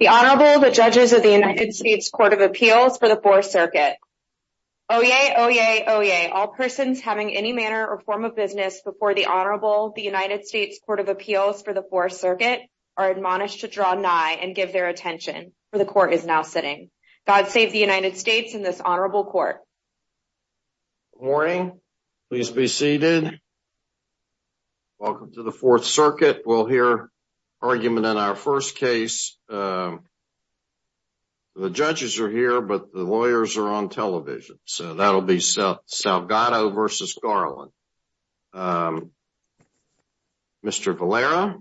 The Honorable, the Judges of the United States Court of Appeals for the Fourth Circuit. Oyez! Oyez! Oyez! All persons having any manner or form of business before the Honorable, the United States Court of Appeals for the Fourth Circuit are admonished to draw nigh and give their attention, for the Court is now sitting. God save the United States and this Honorable Court. Good morning. Please be seated. Welcome to the Fourth Circuit. We'll hear argument in our first case. The judges are here, but the lawyers are on television, so that'll be Salgado versus Garland. Mr. Valera.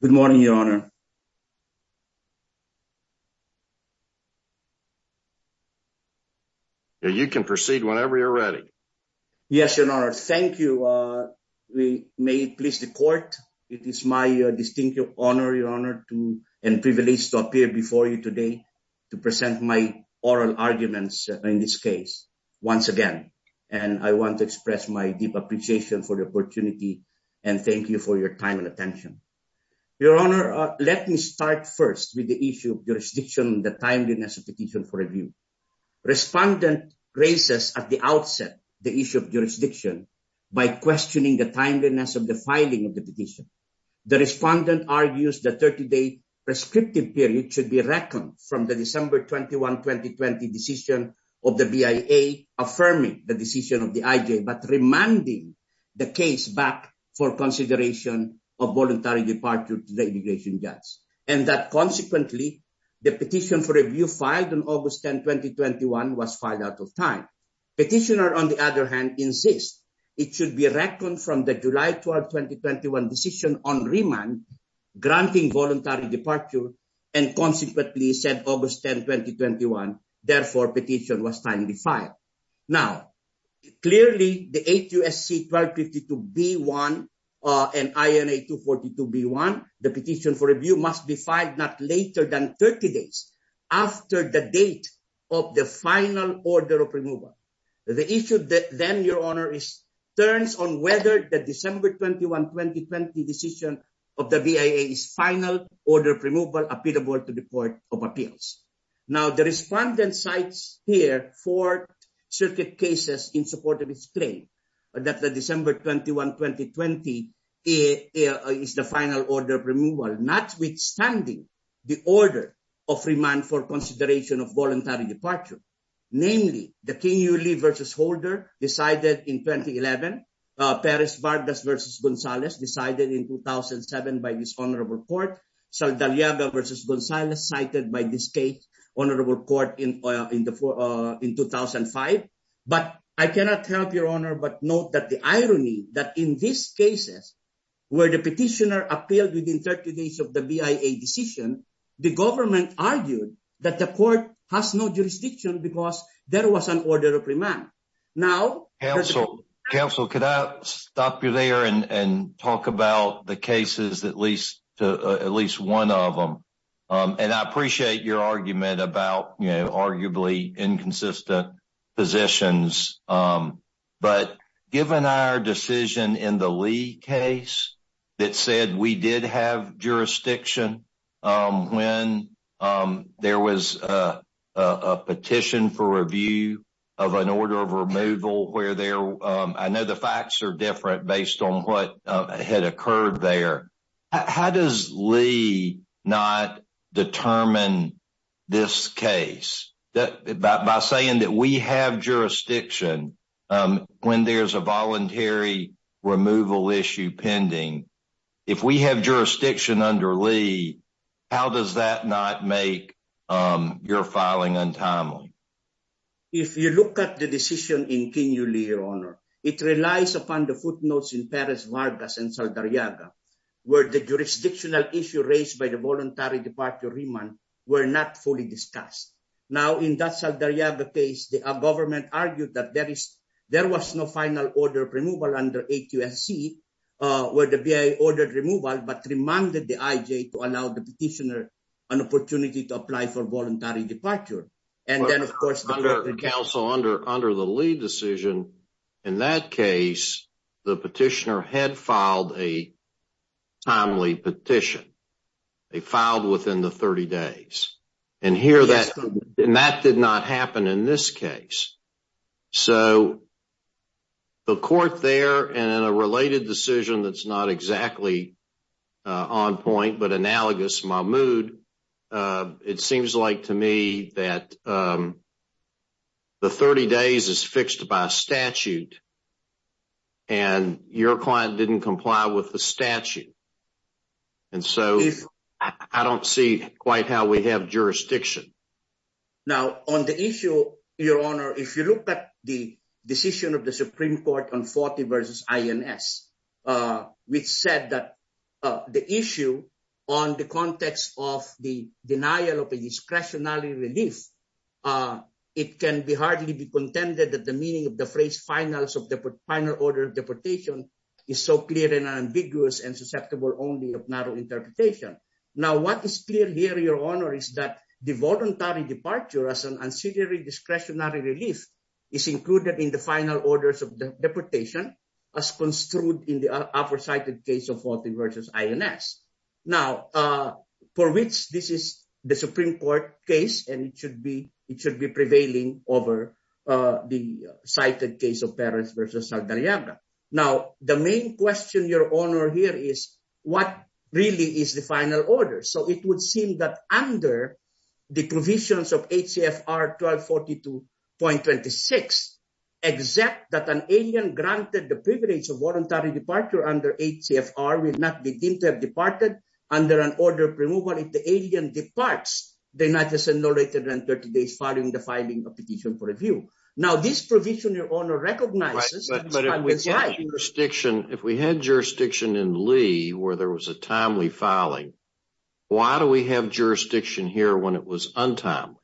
Good morning, Your Honor. You can proceed whenever you're ready. Yes, Your Honor. Thank you. We may please the Court. It is my distinct honor, Your Honor, and privilege to appear before you today to present my oral arguments in this case once again. And I want to express my deep appreciation for the opportunity and thank you for your time and attention. Your Honor, let me start first with the issue of jurisdiction and the timeliness of the petition for review. Respondent raises at the outset the issue of jurisdiction by questioning the timeliness of the filing of the petition. The respondent argues the 30-day prescriptive period should be reckoned from the December 21, 2020, decision of the BIA affirming the decision of the IJ, but reminding the case back for consideration of voluntary departure to the immigration judge. And that, consequently, the petition for review filed on August 10, 2021, was filed out of time. Petitioner, on the other hand, insists it should be reckoned from the July 12, 2021, decision on remand granting voluntary departure and, consequently, said August 10, 2021, therefore, petition was timely filed. Now, clearly, the HUSC-1252-B1 and INA-242-B1, the petition for review, must be filed not later than 30 days after the date of the final order of removal. The issue then, Your Honor, turns on whether the December 21, 2020, decision of the BIA's final order of removal applicable to the Court of Appeals. Now, the respondent cites here four circuit cases in support of his claim that the December 21, 2020, is the final order of removal, notwithstanding the order of remand for consideration of voluntary departure. Namely, the Kenyuli v. Holder, decided in 2011, Perez-Vargas v. Gonzalez, decided in 2007 by this honorable court, Saldaliaga v. Gonzalez, cited by this state honorable court in 2005. But I cannot help, Your Honor, but note that the irony that in these cases, where the petitioner appealed within 30 days of the BIA decision, the government argued that the court has no jurisdiction because there was an order of remand. Counsel, could I stop you there and talk about the cases, at least one of them? And I appreciate your argument about arguably inconsistent positions, but given our decision in the Lee case that said we did have jurisdiction when there was a petition for review of an order of removal, where I know the facts are different based on what had occurred there. How does Lee not determine this case? By saying that we have jurisdiction when there's a voluntary removal issue pending, if we have jurisdiction under Lee, how does that not make your filing untimely? If you look at the decision in Kenyuli, Your Honor, it relies upon the footnotes in Perez-Vargas and Saldaliaga, where the jurisdictional issue raised by the voluntary departure remand were not fully discussed. Now, in that Saldaliaga case, the government argued that there was no final order of removal under 8 U.S.C., where the BIA ordered removal, but remanded the IJ to allow the petitioner an opportunity to apply for voluntary departure. Under the Lee decision, in that case, the petitioner had filed a timely petition. They filed within the 30 days. And that did not happen in this case. So, the court there, and in a related decision that's not exactly on point, but analogous, Mahmoud, it seems like to me that the 30 days is fixed by statute, and your client didn't comply with the statute. And so, I don't see quite how we have jurisdiction. Now, on the issue, Your Honor, if you look at the decision of the Supreme Court on 40 versus INS, which said that the issue on the context of the denial of a discretionary relief, it can hardly be contended that the meaning of the phrase final order of deportation is so clear and ambiguous and susceptible only of narrow interpretation. Now, what is clear here, Your Honor, is that the voluntary departure as an ancillary discretionary relief is included in the final orders of deportation as construed in the aforecited case of 40 versus INS. Now, for which this is the Supreme Court case, and it should be prevailing over the cited case of Perez versus Saldarriaga. Now, the main question, Your Honor, here is, what really is the final order? So, it would seem that under the provisions of HCFR 1242.26, except that an alien granted the privilege of voluntary departure under HCFR will not be deemed to have departed under an order of removal if the alien departs the United States no later than 30 days following the filing of the petition for review. Now, this provision, Your Honor, recognizes. But if we had jurisdiction in Lee where there was a timely filing, why do we have jurisdiction here when it was untimely?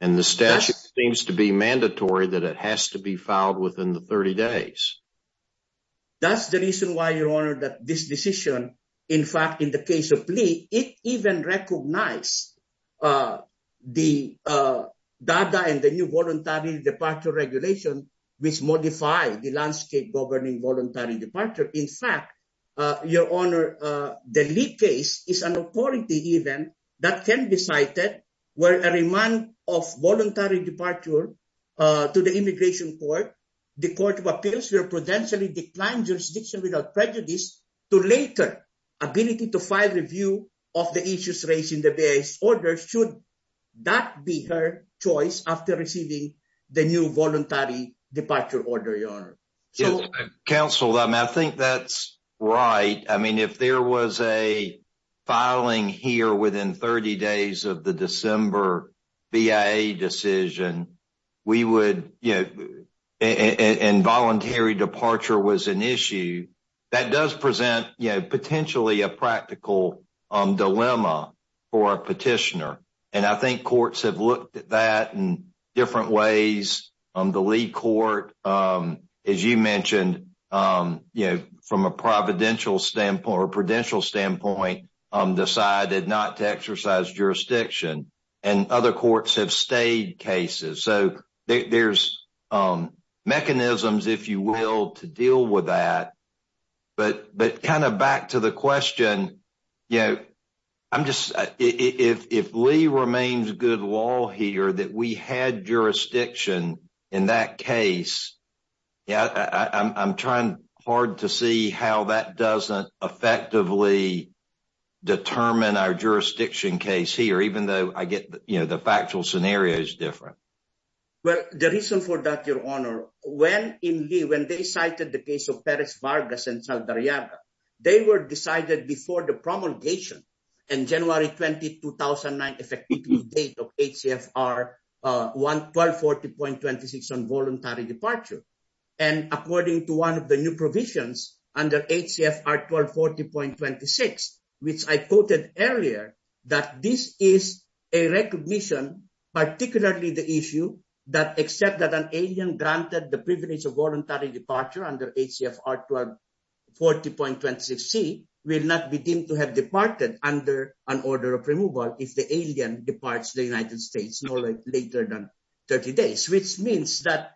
And the statute seems to be mandatory that it has to be filed within the 30 days. That's the reason why, Your Honor, that this decision, in fact, in the case of Lee, it even recognized the data and the new voluntary departure regulation, which modify the landscape governing voluntary departure. In fact, Your Honor, the Lee case is an authority event that can be cited where a remand of voluntary departure to the immigration court, the Court of Appeals will potentially decline jurisdiction without prejudice to later ability to file review of the issues raised in the base order should that be her choice after receiving the new voluntary departure order, Your Honor. Counsel, I think that's right. I mean, if there was a filing here within 30 days of the December BIA decision, we would, you know, and voluntary departure was an issue that does present potentially a practical dilemma for a petitioner. And I think courts have looked at that in different ways. The Lee court, as you mentioned, you know, from a providential standpoint or prudential standpoint, decided not to exercise jurisdiction and other courts have stayed cases. So there's mechanisms, if you will, to deal with that. But kind of back to the question, you know, I'm just if Lee remains good law here that we had jurisdiction in that case. Yeah, I'm trying hard to see how that doesn't effectively determine our jurisdiction case here, even though I get, you know, the factual scenario is different. Well, the reason for that, Your Honor, when in Lee, when they cited the case of Perez Vargas and Saldarriaga, they were decided before the promulgation in January 20, 2009, effective date of HCFR 1240.26 on voluntary departure. And according to one of the new provisions under HCFR 1240.26, which I quoted earlier, that this is a recognition, particularly the issue that except that an alien granted the privilege of voluntary departure under HCFR 1240.26C will not be deemed to have departed under an order of removal if the alien departs the United States no later than 30 days, which means that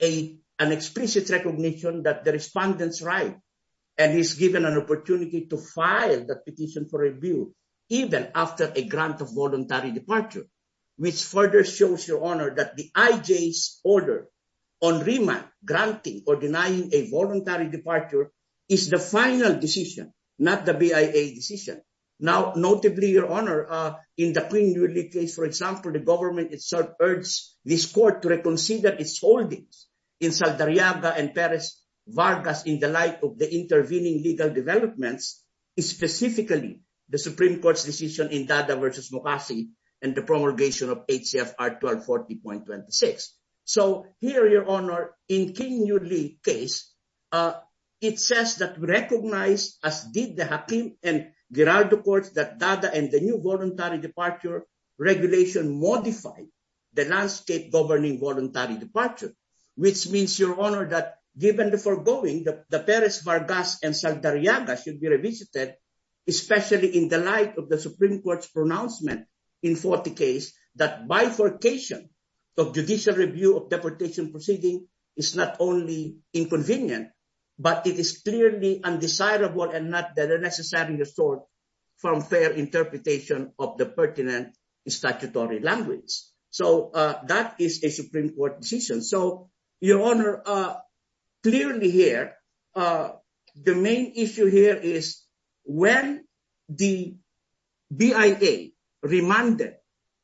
an explicit recognition that the respondent's right and he's given an opportunity to file the petition for review, even after a grant of voluntary departure, which further shows, Your Honor, that the IJ's order on remand granting or denying a voluntary departure is the final decision, not the BIA decision. Now, notably, Your Honor, in the King-Newley case, for example, the government itself urged this court to reconsider its holdings in Saldarriaga and Perez Vargas in the light of the intervening legal developments, specifically the Supreme Court's decision in Dada v. Mokasi and the promulgation of HCFR 1240.26. So here, Your Honor, in the King-Newley case, it says that we recognize, as did the Hakim and Giraldo courts, that Dada and the new voluntary departure regulation modified the landscape governing voluntary departure, which means, Your Honor, that given the foregoing, that the Perez Vargas and Saldarriaga should be revisited, especially in the light of the Supreme Court's pronouncement in 1440, which means that bifurcation of judicial review of deportation proceedings is not only inconvenient, but it is clearly undesirable and not the necessary resort from fair interpretation of the pertinent statutory language. So that is a Supreme Court decision. So, Your Honor, clearly here, the main issue here is when the BIA remanded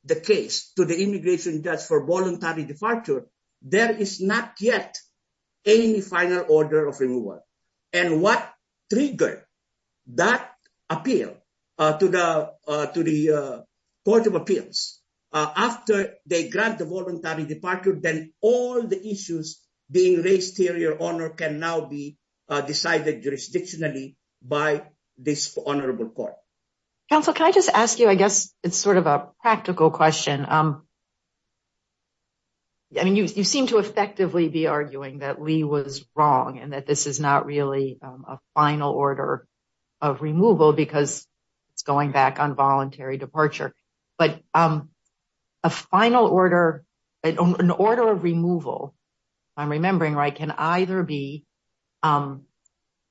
the case to the immigration judge for voluntary departure, there is not yet any final order of removal. And what triggered that appeal to the Court of Appeals? After they grant the voluntary departure, then all the issues being raised here, Your Honor, can now be decided jurisdictionally by this honorable court. Counsel, can I just ask you, I guess it's sort of a practical question. I mean, you seem to effectively be arguing that Lee was wrong and that this is not really a final order of removal because it's going back on voluntary departure. But a final order, an order of removal, if I'm remembering right, can either be an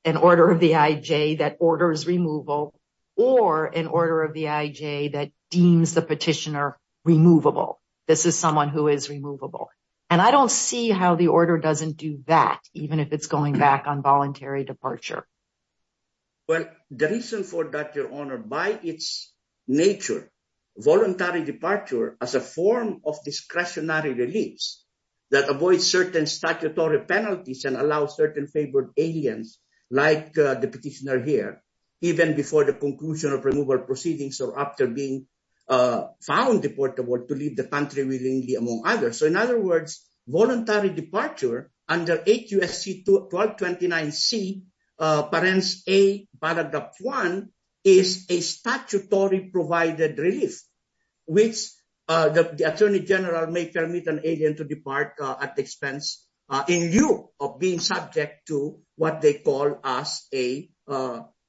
order of the IJ that orders removal or an order of the IJ that deems the petitioner removable. This is someone who is removable. And I don't see how the order doesn't do that, even if it's going back on voluntary departure. Well, the reason for that, Your Honor, by its nature, voluntary departure as a form of discretionary release that avoids certain statutory penalties and allows certain favored aliens, like the petitioner here, even before the conclusion of removal proceedings or after being found deportable to leave the country willingly, among others. So, in other words, voluntary departure under H.U.S.C. 1229C, parens A, Paragraph 1, is a statutory provided relief, which the Attorney General may permit an alien to depart at the expense in lieu of being subject to what they call as a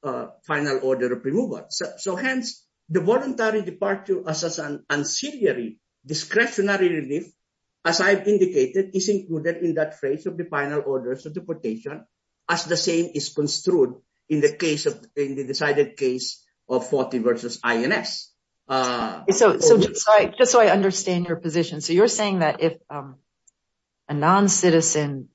final order of removal. So, hence, the voluntary departure as an ancillary discretionary relief, as I've indicated, is included in that phrase of the final orders of deportation, as the same is construed in the case of, in the decided case of 40 versus INS. So, just so I understand your position, so you're saying that if a non-citizen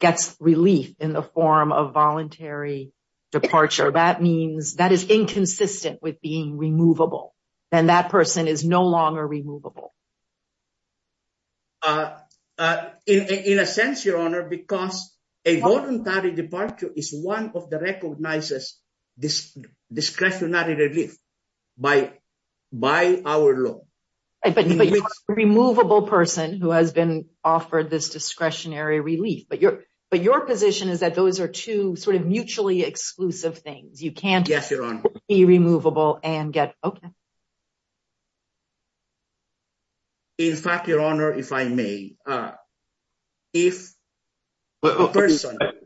gets relief in the form of voluntary departure, that means that is inconsistent with being removable and that person is no longer removable. In a sense, Your Honor, because a voluntary departure is one of the recognized discretionary relief by our law. But you're a removable person who has been offered this discretionary relief, but your position is that those are two sort of mutually exclusive things. Yes, Your Honor. In fact, Your Honor, if I may, if a person... At that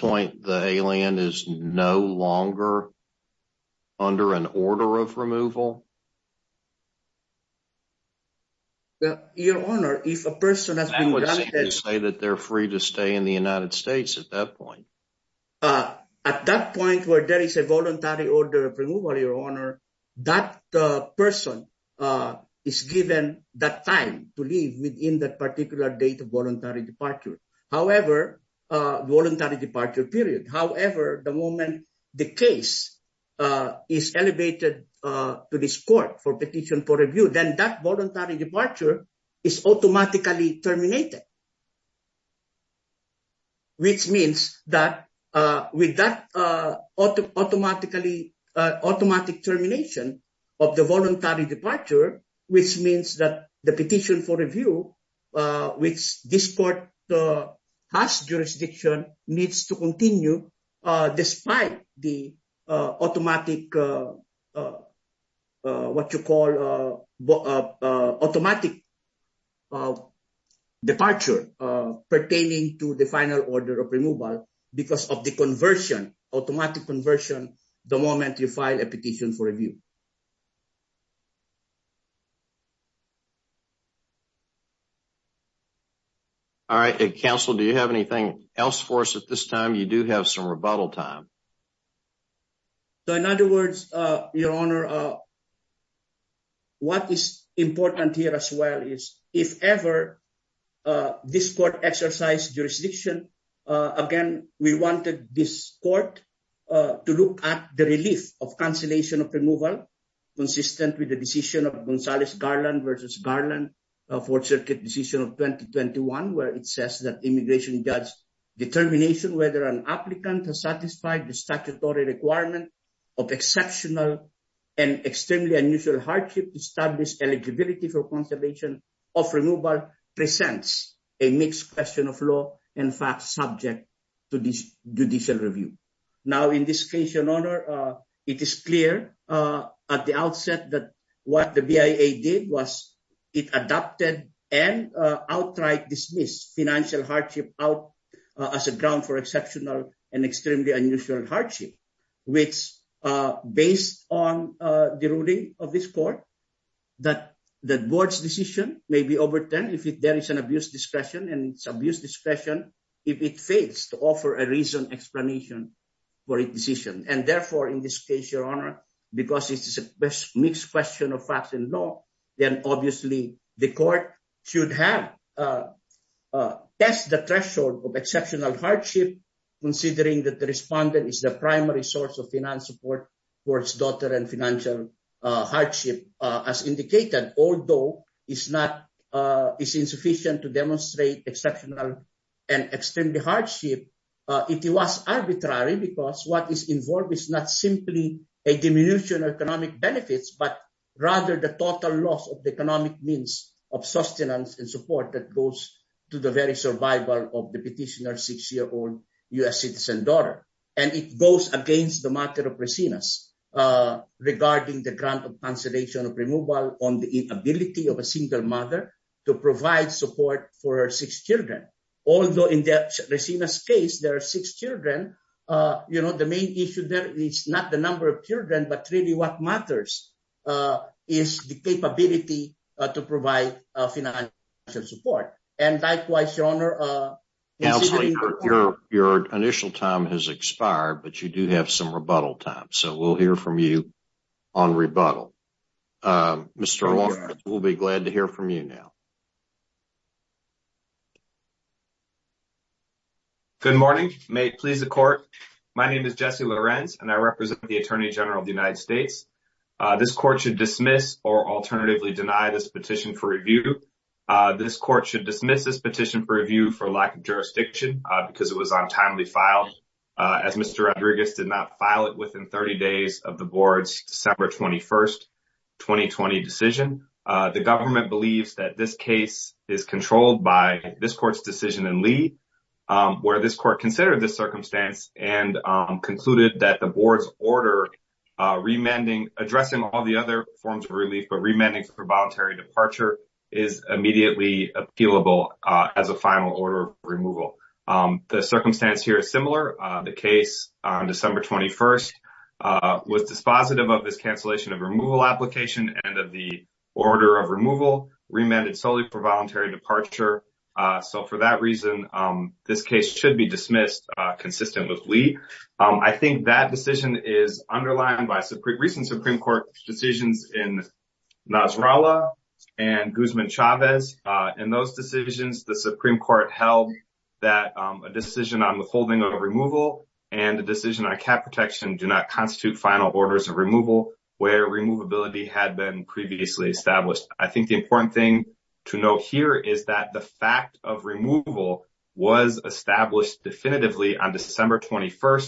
point, the alien is no longer under an order of removal? Your Honor, if a person has been granted... I would say that they're free to stay in the United States at that point. At that point where there is a voluntary order of removal, Your Honor, that person is given that time to leave within that particular date of voluntary departure. However, voluntary departure period. However, the moment the case is elevated to this court for petition for review, then that voluntary departure is automatically terminated. Which means that with that automatic termination of the voluntary departure, which means that the petition for review, which this court has jurisdiction, needs to continue despite the automatic... What you call automatic departure pertaining to the final order of removal because of the conversion, automatic conversion, the moment you file a petition for review. All right. Counsel, do you have anything else for us at this time? You do have some rebuttal time. So, in other words, Your Honor, what is important here as well is, if ever this court exercise jurisdiction, again, we wanted this court to look at the relief of cancellation of removal consistent with the decision of Gonzales Garland versus Garland, Fourth Circuit decision of 2021, where it says that immigration judge determination whether an applicant has satisfied the statutory requirement of exceptional and extremely unusual hardship to establish eligibility for conservation of removal presents a mixed question of law, in fact, subject to judicial review. Now, in this case, Your Honor, it is clear at the outset that what the BIA did was it adopted and outright dismissed financial hardship out as a ground for exceptional and extremely unusual hardship. Which, based on the ruling of this court, that the board's decision may be overturned if there is an abuse discretion, and it's abuse discretion if it fails to offer a reason explanation for its decision. Although it's insufficient to demonstrate exceptional and extremely hardship, it was arbitrary because what is involved is not simply a diminution of economic benefits, but rather the total loss of the economic means of sustenance and support that goes to the very survival of the petitioner's six-year-old U.S. citizen daughter. And it goes against the matter of Resina's regarding the grant of conservation of removal on the inability of a single mother to provide support for her six children. Although in Resina's case, there are six children, you know, the main issue there is not the number of children, but really what matters is the capability to provide financial support. And likewise, Your Honor, your initial time has expired, but you do have some rebuttal time. So we'll hear from you on rebuttal. Mr. We'll be glad to hear from you now. Good morning. May it please the court. My name is Jesse Lorenz, and I represent the Attorney General of the United States. This court should dismiss or alternatively deny this petition for review. This court should dismiss this petition for review for lack of jurisdiction because it was on timely file as Mr. Rodriguez did not file it within 30 days of the board's December 21st, 2020 decision. The government believes that this case is controlled by this court's decision in Lee, where this court considered this circumstance and concluded that the board's order. Addressing all the other forms of relief, but remanding for voluntary departure is immediately appealable as a final order of removal. The circumstance here is similar. The case on December 21st was dispositive of this cancellation of removal application and of the order of removal remanded solely for voluntary departure. So for that reason, this case should be dismissed consistent with Lee. I think that decision is underlined by recent Supreme Court decisions in Nasrallah and Guzman-Chavez. In those decisions, the Supreme Court held that a decision on withholding of removal and a decision on cap protection do not constitute final orders of removal where removability had been previously established. I think the important thing to note here is that the fact of removal was established definitively on December 21st,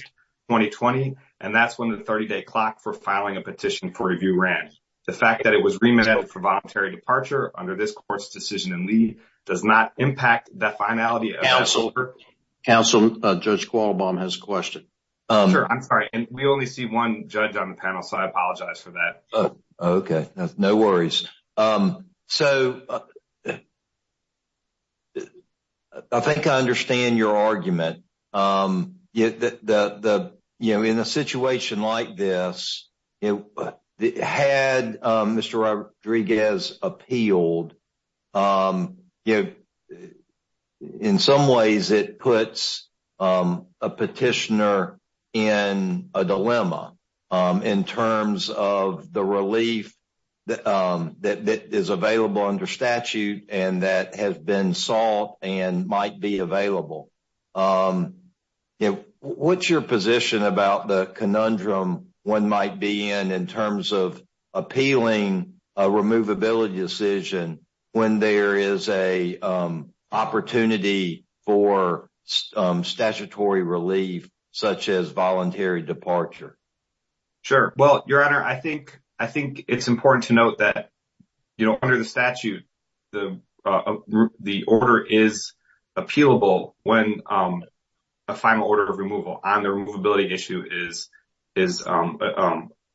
2020, and that's when the 30-day clock for filing a petition for review ran. The fact that it was remanded for voluntary departure under this court's decision in Lee does not impact the finality of this order. Counsel, Judge Qualbohm has a question. I'm sorry, we only see one judge on the panel, so I apologize for that. Okay, no worries. So, I think I understand your argument. In a situation like this, had Mr. Rodriguez appealed, in some ways it puts a petitioner in a dilemma in terms of the relief that is available under statute and that has been sought and might be available. What's your position about the conundrum one might be in in terms of appealing a removability decision when there is an opportunity for statutory relief such as voluntary departure? Sure. Well, Your Honor, I think it's important to note that under the statute, the order is appealable when a final order of removal on the removability issue is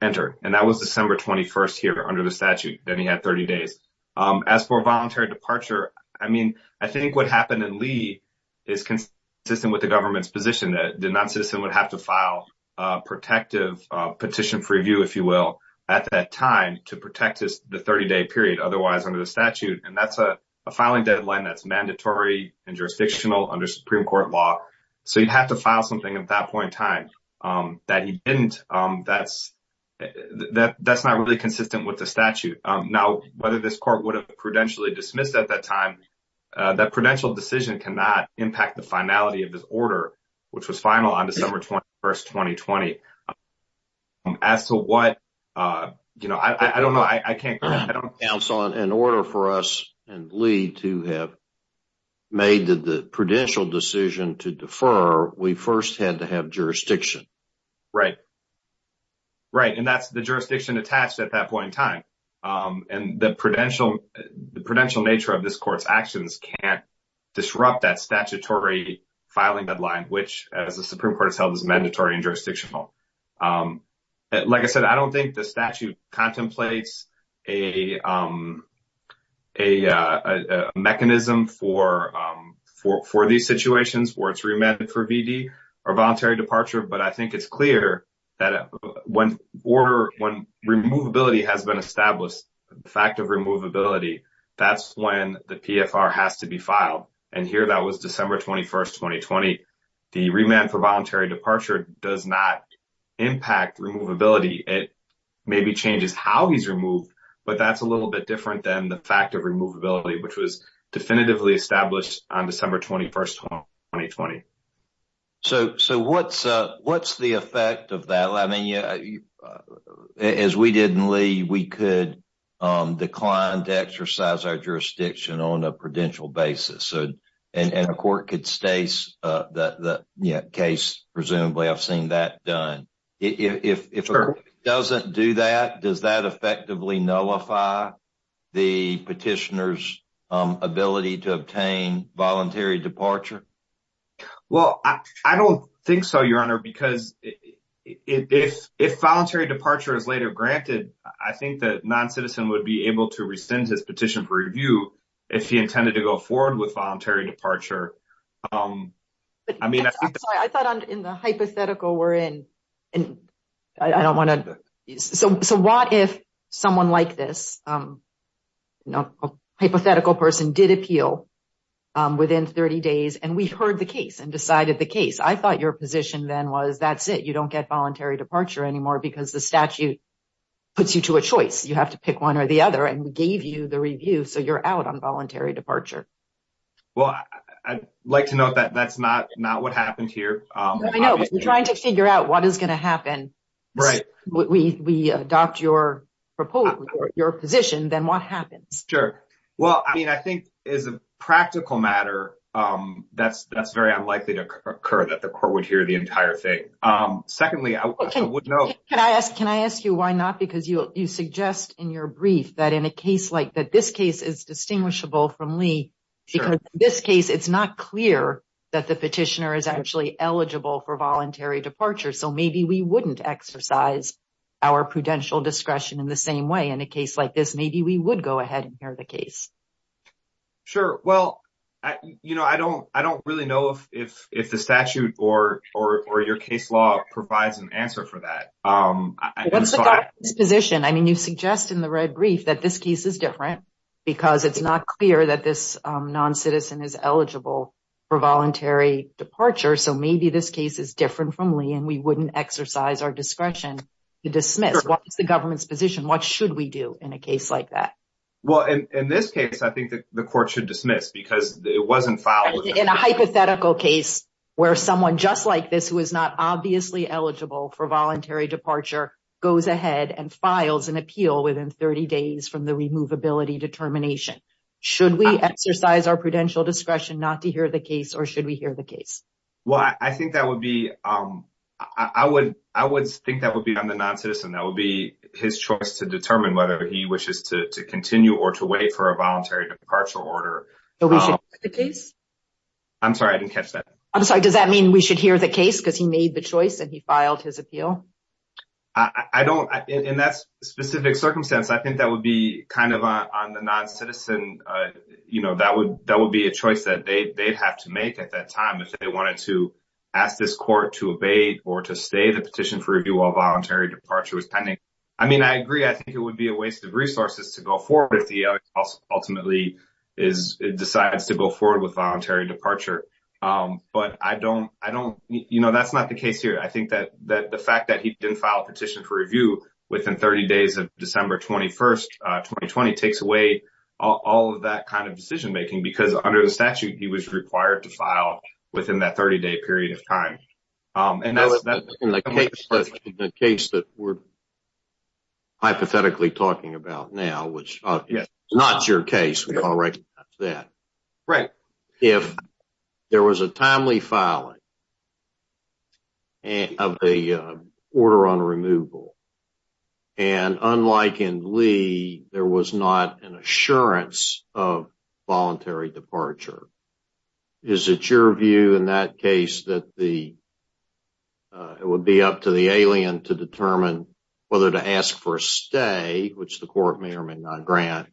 entered. And that was December 21st here under the statute, then he had 30 days. As for voluntary departure, I mean, I think what happened in Lee is consistent with the government's position that the non-citizen would have to file a protective petition for review, if you will, at that time to protect the 30-day period otherwise under the statute. And that's a filing deadline that's mandatory and jurisdictional under Supreme Court law. So, you'd have to file something at that point in time that he didn't. That's not really consistent with the statute. Now, whether this court would have prudentially dismissed at that time, that prudential decision cannot impact the finality of this order, which was final on December 21st, 2020. As to what, you know, I don't know. I can't. In order for us and Lee to have made the prudential decision to defer, we first had to have jurisdiction. Right. Right. And that's the jurisdiction attached at that point in time. And the prudential nature of this court's actions can't disrupt that statutory filing deadline, which, as the Supreme Court has held, is mandatory and jurisdictional. Like I said, I don't think the statute contemplates a mechanism for these situations where it's remanded for VD or voluntary departure. But I think it's clear that when order, when removability has been established, the fact of removability, that's when the PFR has to be filed. And here that was December 21st, 2020. The remand for voluntary departure does not impact removability. It maybe changes how he's removed, but that's a little bit different than the fact of removability, which was definitively established on December 21st, 2020. So what's the effect of that? I mean, as we did in Lee, we could decline to exercise our jurisdiction on a prudential basis. And a court could stase the case, presumably, I've seen that done. If it doesn't do that, does that effectively nullify the petitioner's ability to obtain voluntary departure? Well, I don't think so, Your Honor, because if voluntary departure is later granted, I think that non-citizen would be able to rescind his petition for review if he intended to go forward with voluntary departure. I thought in the hypothetical we're in, and I don't want to. So what if someone like this hypothetical person did appeal within 30 days and we heard the case and decided the case. I thought your position then was that's it. You don't get voluntary departure anymore because the statute puts you to a choice. You have to pick one or the other and we gave you the review. So you're out on voluntary departure. Well, I'd like to note that that's not what happened here. I know, but we're trying to figure out what is going to happen. Right. We adopt your position, then what happens? Sure. Well, I mean, I think as a practical matter, that's very unlikely to occur that the court would hear the entire thing. Secondly, I would know. Can I ask you why not? Because you suggest in your brief that in a case like that, this case is distinguishable from Lee. Because in this case, it's not clear that the petitioner is actually eligible for voluntary departure. So maybe we wouldn't exercise our prudential discretion in the same way in a case like this. Maybe we would go ahead and hear the case. Sure. Well, I don't really know if the statute or your case law provides an answer for that. What's the government's position? I mean, you suggest in the red brief that this case is different because it's not clear that this non-citizen is eligible for voluntary departure. So maybe this case is different from Lee and we wouldn't exercise our discretion to dismiss. What is the government's position? What should we do in a case like that? Well, in this case, I think that the court should dismiss because it wasn't filed. In a hypothetical case where someone just like this who is not obviously eligible for voluntary departure goes ahead and files an appeal within 30 days from the removability determination. Should we exercise our prudential discretion not to hear the case or should we hear the case? Well, I think that would be on the non-citizen. That would be his choice to determine whether he wishes to continue or to wait for a voluntary departure order. So we should hear the case? I'm sorry. I didn't catch that. I'm sorry. Does that mean we should hear the case because he made the choice and he filed his appeal? I don't. In that specific circumstance, I think that would be kind of on the non-citizen. That would be a choice that they'd have to make at that time if they wanted to ask this court to abate or to stay the petition for review while voluntary departure was pending. I mean, I agree. I think it would be a waste of resources to go forward with the ultimately decides to go forward with voluntary departure. But that's not the case here. I think that the fact that he didn't file a petition for review within 30 days of December 21, 2020 takes away all of that kind of decision-making because under the statute, he was required to file within that 30-day period of time. In the case that we're hypothetically talking about now, which is not your case, which I'll recognize that, if there was a timely filing of the order on removal, and unlike in Lee, there was not an assurance of voluntary departure, is it your view in that case that it would be up to the alien to determine whether to ask for a stay, which the court may or may not grant,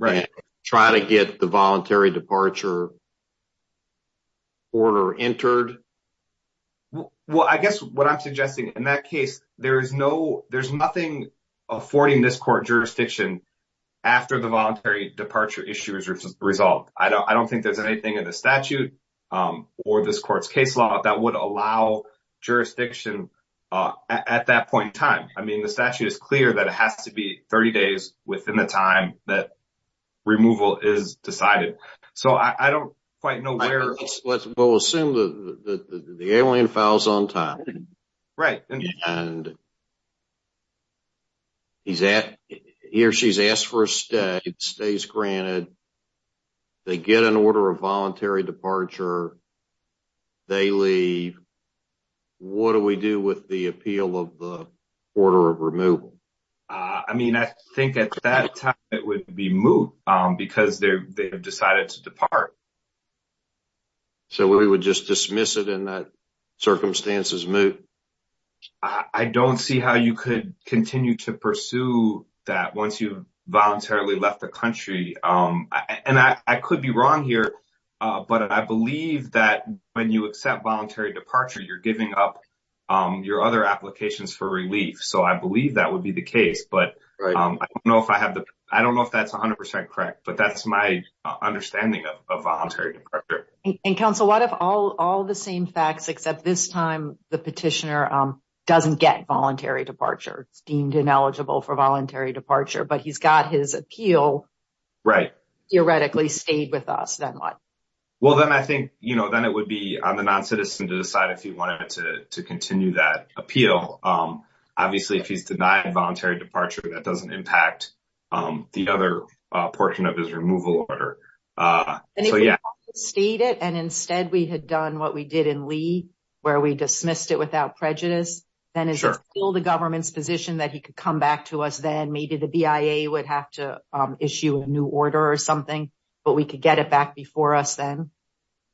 and try to get the voluntary departure order entered? Well, I guess what I'm suggesting in that case, there's nothing affording this court jurisdiction after the voluntary departure issue is resolved. I don't think there's anything in the statute or this court's case law that would allow jurisdiction at that point in time. I mean, the statute is clear that it has to be 30 days within the time that removal is decided. Let's assume that the alien files on time, and he or she has asked for a stay, it stays granted, they get an order of voluntary departure, they leave, what do we do with the appeal of the order of removal? I mean, I think at that time, it would be moot because they've decided to depart. So we would just dismiss it in that circumstances moot? I don't see how you could continue to pursue that once you've voluntarily left the country. And I could be wrong here, but I believe that when you accept voluntary departure, you're giving up your other applications for relief. So I believe that would be the case, but I don't know if that's 100% correct, but that's my understanding of voluntary departure. And counsel, what if all the same facts, except this time, the petitioner doesn't get voluntary departure? It's deemed ineligible for voluntary departure, but he's got his appeal theoretically stayed with us, then what? Well, then I think, you know, then it would be on the non-citizen to decide if he wanted to continue that appeal. Obviously, if he's denied voluntary departure, that doesn't impact the other portion of his removal order. And if he wanted to stay it and instead we had done what we did in Lee, where we dismissed it without prejudice, then is it still the government's position that he could come back to us then? Maybe the BIA would have to issue a new order or something, but we could get it back before us then?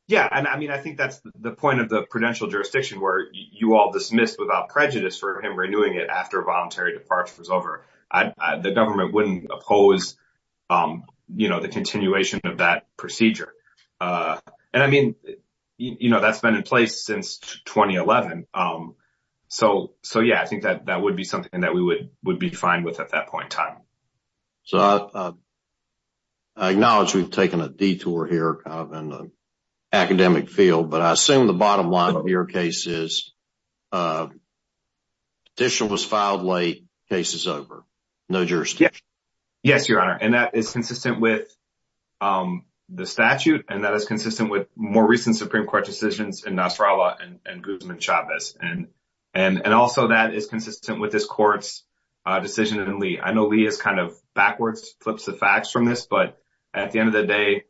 Yeah, and I mean, I think that's the point of the prudential jurisdiction where you all dismissed without prejudice for him renewing it after voluntary departure was over. The government wouldn't oppose, you know, the continuation of that procedure. And I mean, you know, that's been in place since 2011. So, yeah, I think that that would be something that we would be fine with at that point in time. So, I acknowledge we've taken a detour here in the academic field, but I assume the bottom line of your case is petition was filed late, case is over. No jurisdiction. Yes, Your Honor, and that is consistent with the statute and that is consistent with more recent Supreme Court decisions in Nasrallah and Guzman Chavez. And also that is consistent with this court's decision in Lee. I know Lee is kind of backwards, flips the facts from this, but at the end of the day,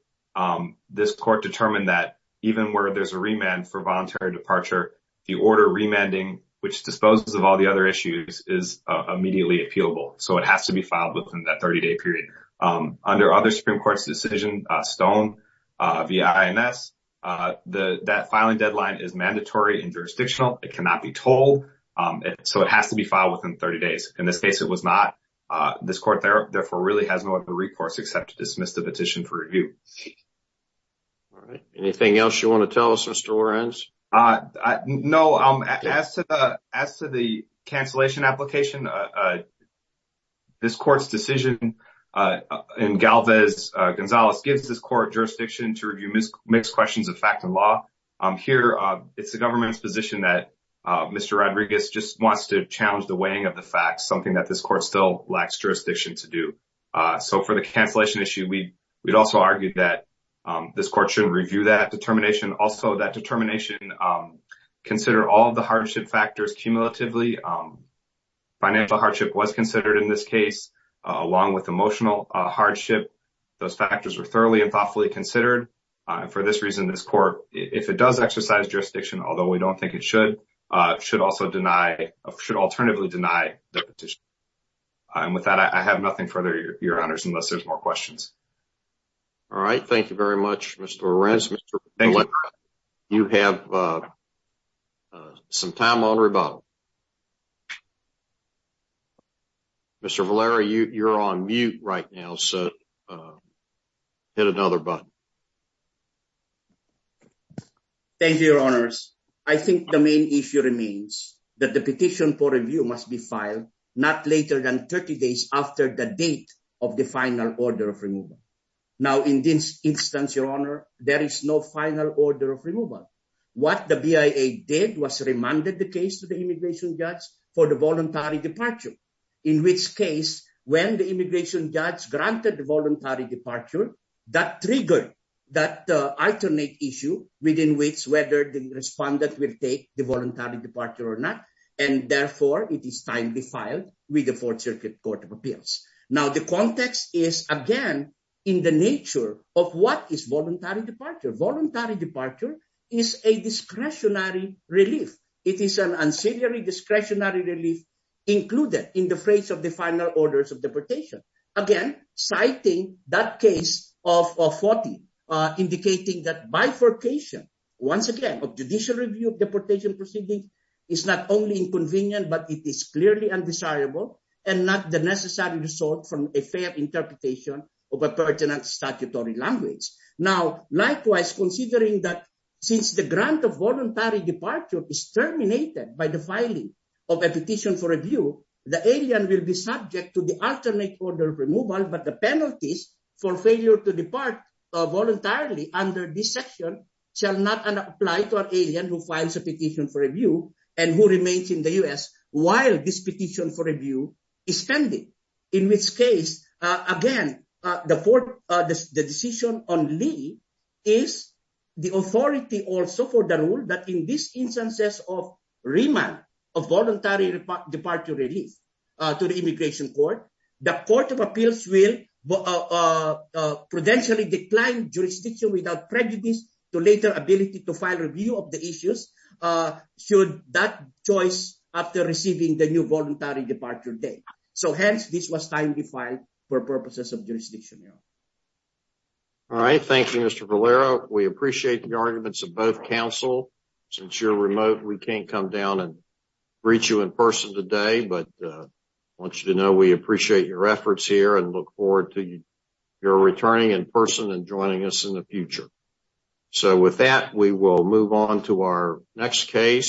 this court determined that even where there's a remand for voluntary departure, the order remanding, which disposes of all the other issues, is immediately appealable. So it has to be filed within that 30-day period. Under other Supreme Court's decision, Stone v. INS, that filing deadline is mandatory and jurisdictional. It cannot be told. So it has to be filed within 30 days. In this case, it was not. This court therefore really has no other recourse except to dismiss the petition for review. All right. Anything else you want to tell us, Mr. Lorenz? No. As to the cancellation application, this court's decision in Galvez v. Gonzalez gives this court jurisdiction to review mixed questions of fact and law. Here, it's the government's position that Mr. Rodriguez just wants to challenge the weighing of the facts, something that this court still lacks jurisdiction to do. So for the cancellation issue, we'd also argue that this court should review that determination. Also, that determination, consider all of the hardship factors cumulatively. Financial hardship was considered in this case, along with emotional hardship. Those factors were thoroughly and thoughtfully considered. For this reason, this court, if it does exercise jurisdiction, although we don't think it should, should also deny, should alternatively deny the petition. And with that, I have nothing further, Your Honors, unless there's more questions. All right. Thank you very much, Mr. Lorenz. You have some time on rebuttal. Mr. Valera, you're on mute right now, so hit another button. Thank you, Your Honors. I think the main issue remains that the petition for review must be filed not later than 30 days after the date of the final order of removal. Now, in this instance, Your Honor, there is no final order of removal. What the BIA did was remanded the case to the immigration judge for the voluntary departure, in which case, when the immigration judge granted the voluntary departure, that triggered that alternate issue within which whether the respondent will take the voluntary departure or not. And therefore, it is timely filed with the Fourth Circuit Court of Appeals. Now, the context is, again, in the nature of what is voluntary departure. Voluntary departure is a discretionary relief. It is an ancillary discretionary relief included in the phrase of the final orders of deportation. Again, citing that case of FOTI, indicating that bifurcation, once again, of judicial review of deportation proceedings is not only inconvenient, but it is clearly undesirable and not the necessary result from a fair interpretation of a pertinent statutory language. Now, likewise, considering that since the grant of voluntary departure is terminated by the filing of a petition for review, the alien will be subject to the alternate order of removal, but the penalties for failure to depart voluntarily under this section shall not apply to an alien who files a petition for review and who remains in the U.S. while this petition for review is pending. In which case, again, the decision on Lee is the authority also for the rule that in these instances of remand of voluntary departure relief to the immigration court, the Court of Appeals will prudentially decline jurisdiction without prejudice to later ability to file review of the issues should that choice after receiving the new voluntary departure date. So, hence, this was timely filed for purposes of jurisdiction. All right. Thank you, Mr. Valero. We appreciate the arguments of both counsel. Since you're remote, we can't come down and greet you in person today, but I want you to know we appreciate your efforts here and look forward to your returning in person and joining us in the future. So, with that, we will move on to our next case.